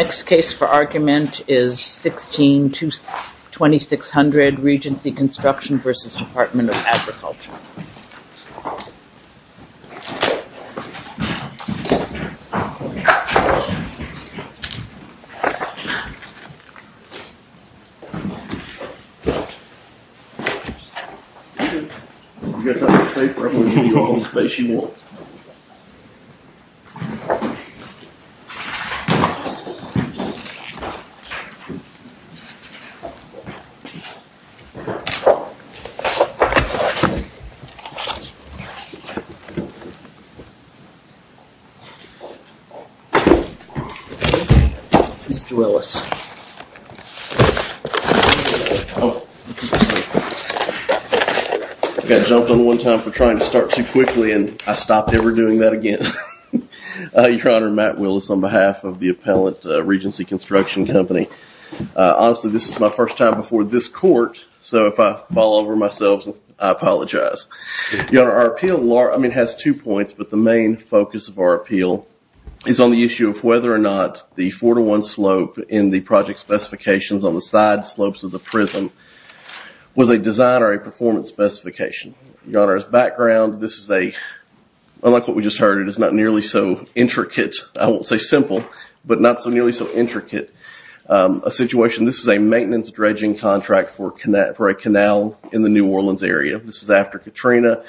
Next case for argument is 16-2600, Regency Construction v. Department of Agriculture Mr. Willis. I got jumped on one time for trying to start too quickly and I stopped ever doing that again. Your Honor, Matt Willis on behalf of the appellant, Regency Construction Company. Honestly, this is my first time before this court, so if I fall over myself, I apologize. Your Honor, our appeal has two points, but the main focus of our appeal is on the issue of whether or not the four-to-one slope in the project specifications on the side slopes of the prism was a design or a performance specification. Your Honor, as background, unlike what we just heard, it is not nearly so intricate, I won't say simple, but not so nearly so intricate a situation. This is a maintenance dredging contract for a canal in the New Orleans area. This is after Katrina.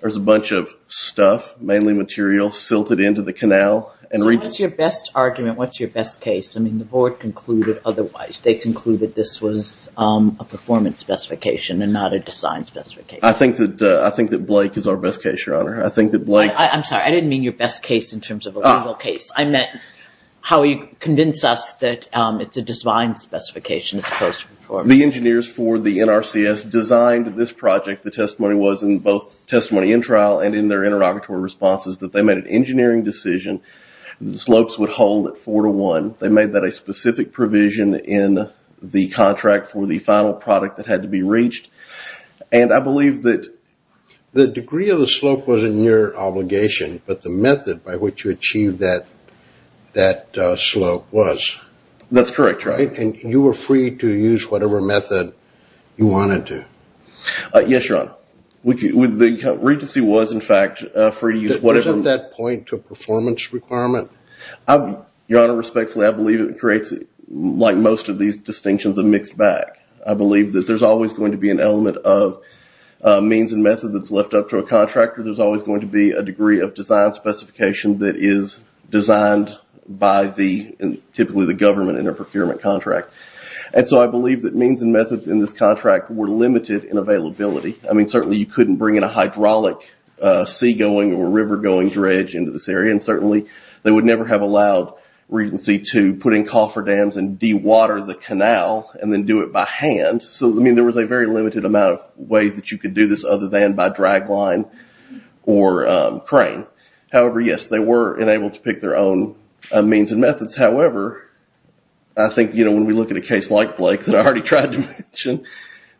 There's a bunch of stuff, mainly material, silted into the canal. What's your best argument? What's your best case? I mean, the board concluded otherwise. They concluded this was a performance specification and not a design specification. I think that Blake is our best case, Your Honor. I think that Blake... I'm sorry. I didn't mean your best case in terms of a legal case. I meant how he convinced us that it's a design specification as opposed to performance. The engineers for the NRCS designed this project. The testimony was in both testimony in trial and in their interrogatory responses that they made an engineering decision. The slopes would hold at four-to-one. They made that a specific provision in the contract for the final product that had to be reached. I believe that... The degree of the slope was in your obligation, but the method by which you achieved that slope was. That's correct. You were free to use whatever method you wanted to. Yes, Your Honor. Regency was, in fact, free to use whatever... Wasn't that point a performance requirement? Your Honor, respectfully, I believe it creates, like most of these distinctions, a mixed bag. I believe that there's always going to be an element of means and method that's left up to a contractor. There's always going to be a degree of design specification that is designed by typically the government in a procurement contract. I believe that means and methods in this contract were limited in availability. Certainly, you couldn't bring in a hydraulic sea-going or river-going dredge into this area. Certainly, they would never have and then do it by hand. I mean, there was a very limited amount of ways that you could do this other than by drag line or crane. However, yes, they were enabled to pick their own means and methods. However, I think when we look at a case like Blake's, and I already tried to mention,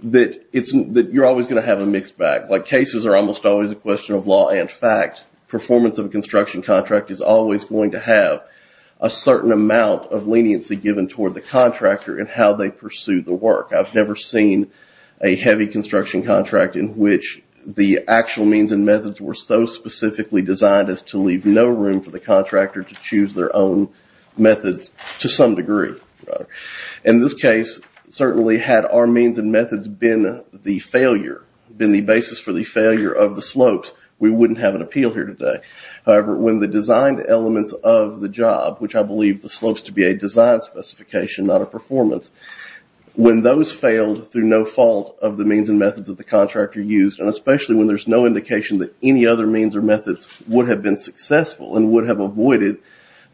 that you're always going to have a mixed bag. Cases are almost always a question of law and fact. Performance of a construction contract is always going to have a certain amount of leniency given toward the contractor and how they pursue the work. I've never seen a heavy construction contract in which the actual means and methods were so specifically designed as to leave no room for the contractor to choose their own methods to some degree. In this case, certainly had our means and methods been the failure, been the basis for the failure of the slopes, we wouldn't have an appeal here today. However, when the design elements of the job, which I believe the slopes to be a design specification, not a performance, when those failed through no fault of the means and methods of the contractor used, and especially when there's no indication that any other means or methods would have been successful and would have avoided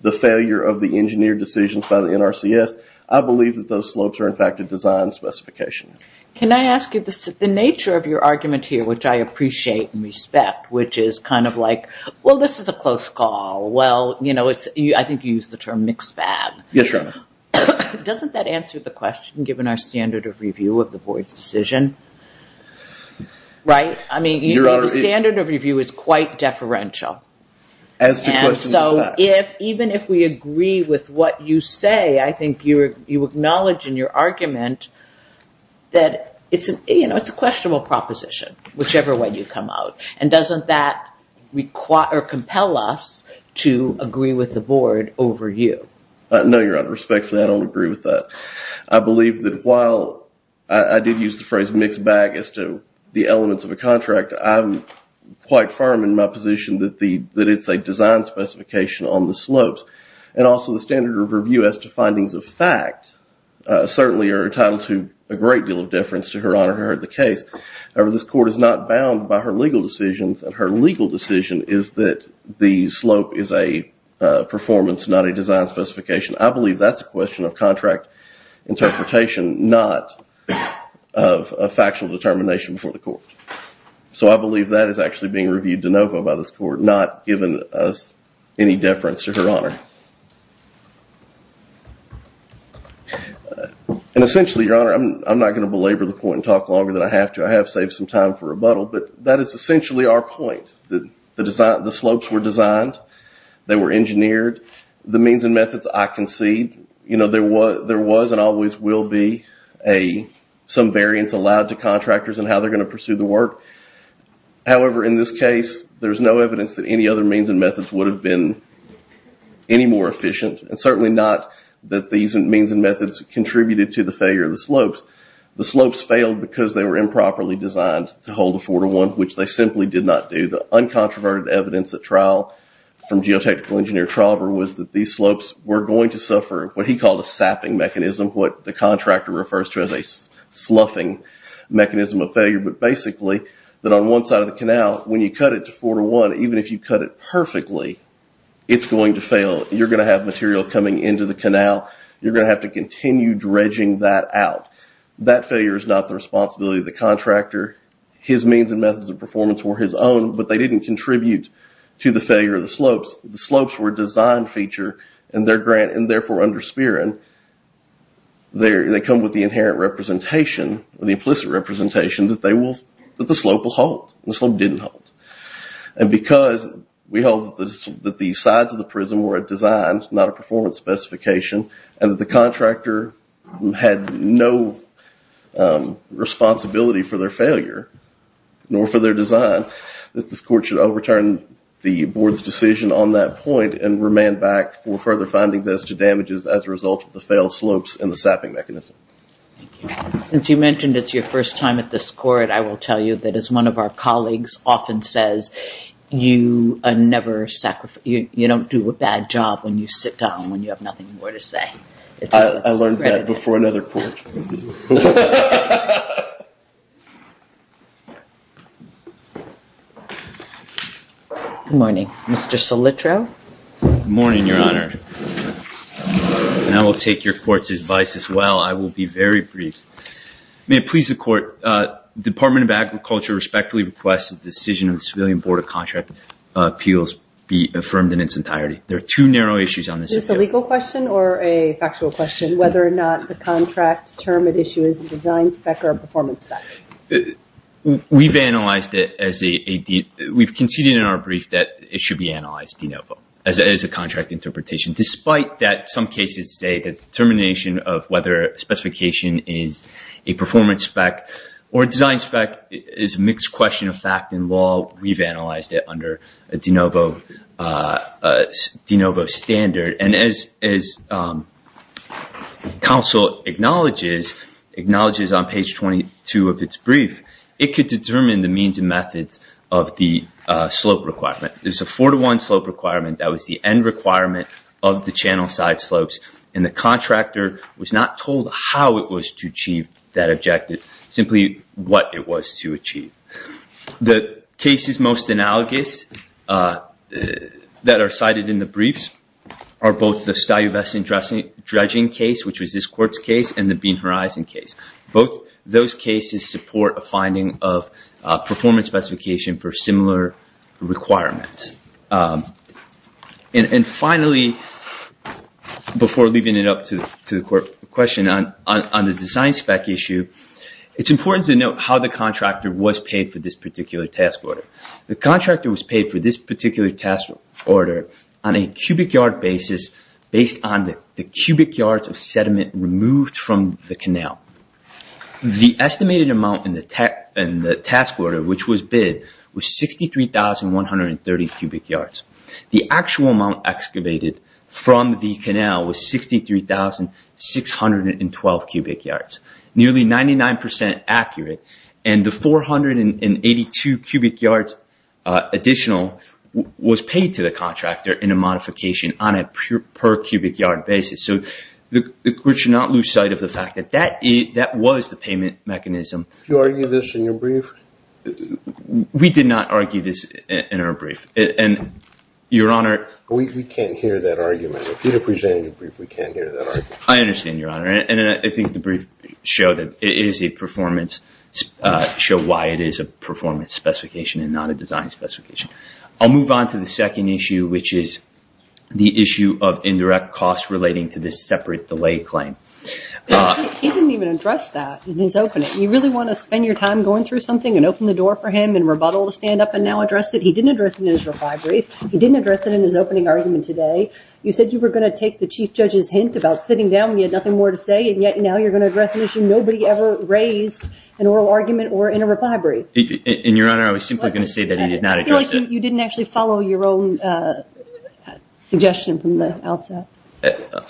the failure of the engineer decisions by the NRCS, I believe that those slopes are in fact a design specification. Can I ask you, the nature of your argument here, which I appreciate and respect, which is kind of like, well, this is a close call. Well, I think you used the term mixed bag. Yes, Your Honor. Doesn't that answer the question given our standard of review of the board's decision? Right? I mean, the standard of review is quite deferential. As to questions of facts. Even if we agree with what you say, I think you acknowledge in your argument that it's a questionable proposition, whichever way you come out. And doesn't that compel us to agree with the board over you? No, Your Honor. Respectfully, I don't agree with that. I believe that while I did use the phrase mixed bag as to the elements of a contract, I'm quite firm in my position that it's a design specification on the slopes. And also the standard of review as to findings of fact certainly are entitled to a great deal of deference to Her Honor who heard the case. However, this court is not bound by her legal decisions. And her legal decision is that the slope is a performance, not a design specification. I believe that's a question of contract interpretation, not of a factual determination before the court. So I believe that is actually being reviewed de novo by this court, not given us any deference to Her Honor. And essentially, Your Honor, I'm not going to belabor the point and talk longer than I have to. I have saved some time for rebuttal, but that is essentially our point. The slopes were designed, they were engineered, the means and methods I concede. There was and always will be some variance allowed to contractors in how they're going to pursue the work. However, in this case, there's no evidence that any other means and methods would have been any more efficient. And certainly not that these means and methods contributed to the failure of the slopes. The slopes failed because they were improperly designed to hold a four-to-one, which they simply did not do. The uncontroverted evidence at trial from geotechnical engineer Traver was that these slopes were going to suffer what he called a sapping mechanism, what the contractor refers to as a sloughing mechanism of failure. But basically, that on one side of the canal, when you cut it to four-to-one, even if you cut it perfectly, it's going to fail. You're going to have material coming into the canal. You're going to have to continue dredging that out. That failure is not the responsibility of the contractor. His means and methods of performance were his own, but they didn't contribute to the failure of the slopes. The slopes were a design feature and therefore under Speran, they come with the inherent representation, the implicit representation that the slope will halt. The slope didn't halt. And because we held that the sides of the prism were a design, not a performance specification, and that the contractor had no responsibility for their failure, nor for their design, that this court should overturn the board's decision on that point and remain back for further findings as to damages as a result of the failed slopes and the sapping mechanism. Thank you. Since you mentioned it's your first time at this court, I will tell you that as one of our colleagues often says, you don't do a bad job when you sit down, when you have nothing more to say. I learned that before another court. Good morning, Mr. Sollitro. Good morning, Your Honor. And I will take your court's advice as well. I will be very brief. May it please the court, Department of Agriculture respectfully requests the decision of the Civilian Board of Contract Appeals be affirmed in its entirety. There are two narrow issues on this appeal. Is this a legal question or a factual question? Whether or not the contract term at issue is a design spec or a performance spec? We've analyzed it as a, we've conceded in our brief that it should be analyzed de novo, as a contract interpretation, despite that some cases say that the termination of whether a specification is a performance spec or a design spec is a mixed question of fact and law. We've analyzed it under a de novo standard. And as counsel acknowledges on page 22 of its brief, it could determine the means and methods of the slope requirement. There's a four-to-one slope requirement that was the end requirement of the channel side slopes. And the contractor was not told how it was to achieve that objective, simply what it was to achieve. The cases most analogous that are cited in the briefs are both the Stuyvesant dredging case, which was this court's case, and the Bean Horizon case. Both those cases support a finding of performance specification for similar requirements. And finally, before leaving it up to the court question, on the design spec issue, it's important to note how the contractor was paid for this particular task order. The contractor was paid for this particular task order on a cubic yard basis, based on the cubic yards of sediment removed from the canal. The estimated amount in the task order, which was bid, was 63,130 cubic yards. The actual amount excavated from the canal was 63,612 cubic yards, nearly 99% accurate. And the 482 cubic yards additional was paid to the contractor in a modification on a per cubic yard basis. So the court should not lose sight of the fact that that was the payment mechanism. Did you argue this in your brief? We did not argue this in our brief. And, Your Honor... We can't hear that argument. If you'd have presented your brief, we can't hear that argument. I understand, Your Honor. And I think the brief showed that it is a performance, showed why it is a performance specification and not a design specification. I'll move on to the second issue, which is the issue of indirect costs relating to this separate delay claim. He didn't even address that in his opening. You really want to spend your time going through something and open the door for him and rebuttal to stand up and now address it? He didn't address it in his reply brief. He didn't address it in his opening argument today. You said you were going to take the Chief Judge's hint about sitting down when you had nothing more to say, and yet now you're going to address an issue nobody ever raised in oral argument or in a reply brief. And, Your Honor, I was simply going to say that he did not address it. You didn't actually follow your own suggestion from the outset.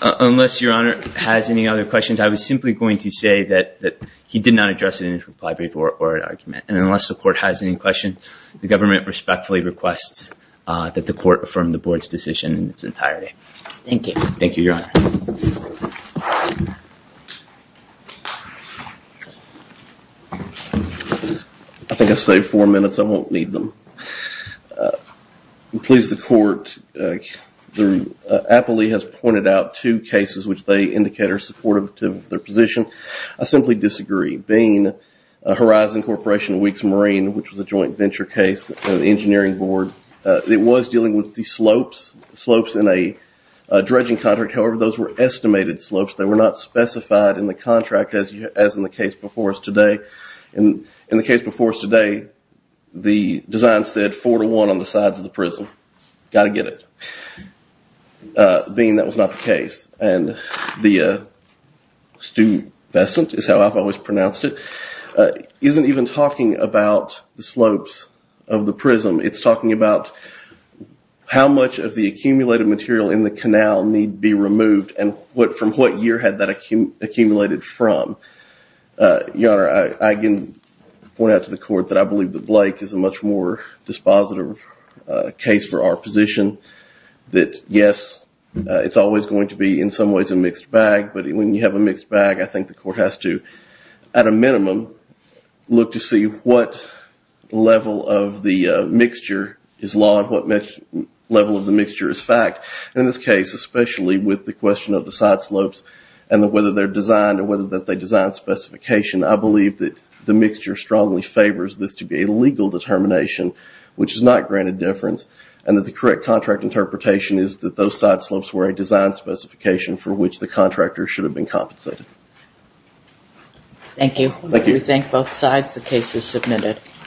Unless Your Honor has any other questions, I was simply going to say that he did not address it in his reply brief or oral argument. And unless the Court has any questions, the government respectfully requests that the Court affirm the Board's decision in its entirety. Thank you. Thank you, Your Honor. I think I saved four minutes. I won't need them. I'm pleased the Court, the appellee has pointed out two cases which they indicate are supportive to their position. I simply disagree. Bean, Horizon Corporation Weeks Marine, which was a joint venture case of the Engineering Board, it was dealing with the slopes in a dredging contract. However, those were estimated slopes. They were not specified in the contract as in the case before us today. In the case before us today, the design said four to one on the sides of the prism. Got to get it. Bean, that was not the case. And the stupescent is how I've always pronounced it, isn't even talking about the slopes of the prism. It's talking about how much of the accumulated material in the canal need be removed and from what year had that accumulated from. Your Honor, I can point out to the Court that I believe that Blake is a much more dispositive case for our position, that yes, it's always going to be in some ways a mixed bag, but when you have a mixed bag, I think the Court has to, at a minimum, look to see what level of the mixture is law and what level of the mixture is fact. In this case, especially with the question of the side slopes and whether they're designed or whether that they design specification, I believe that the mixture strongly favors this to be a legal determination, which is not granted difference and that the correct contract interpretation is that those side slopes were a design specification for which the contractor should have been compensated. Thank you. Thank you. We thank both sides. The case is submitted.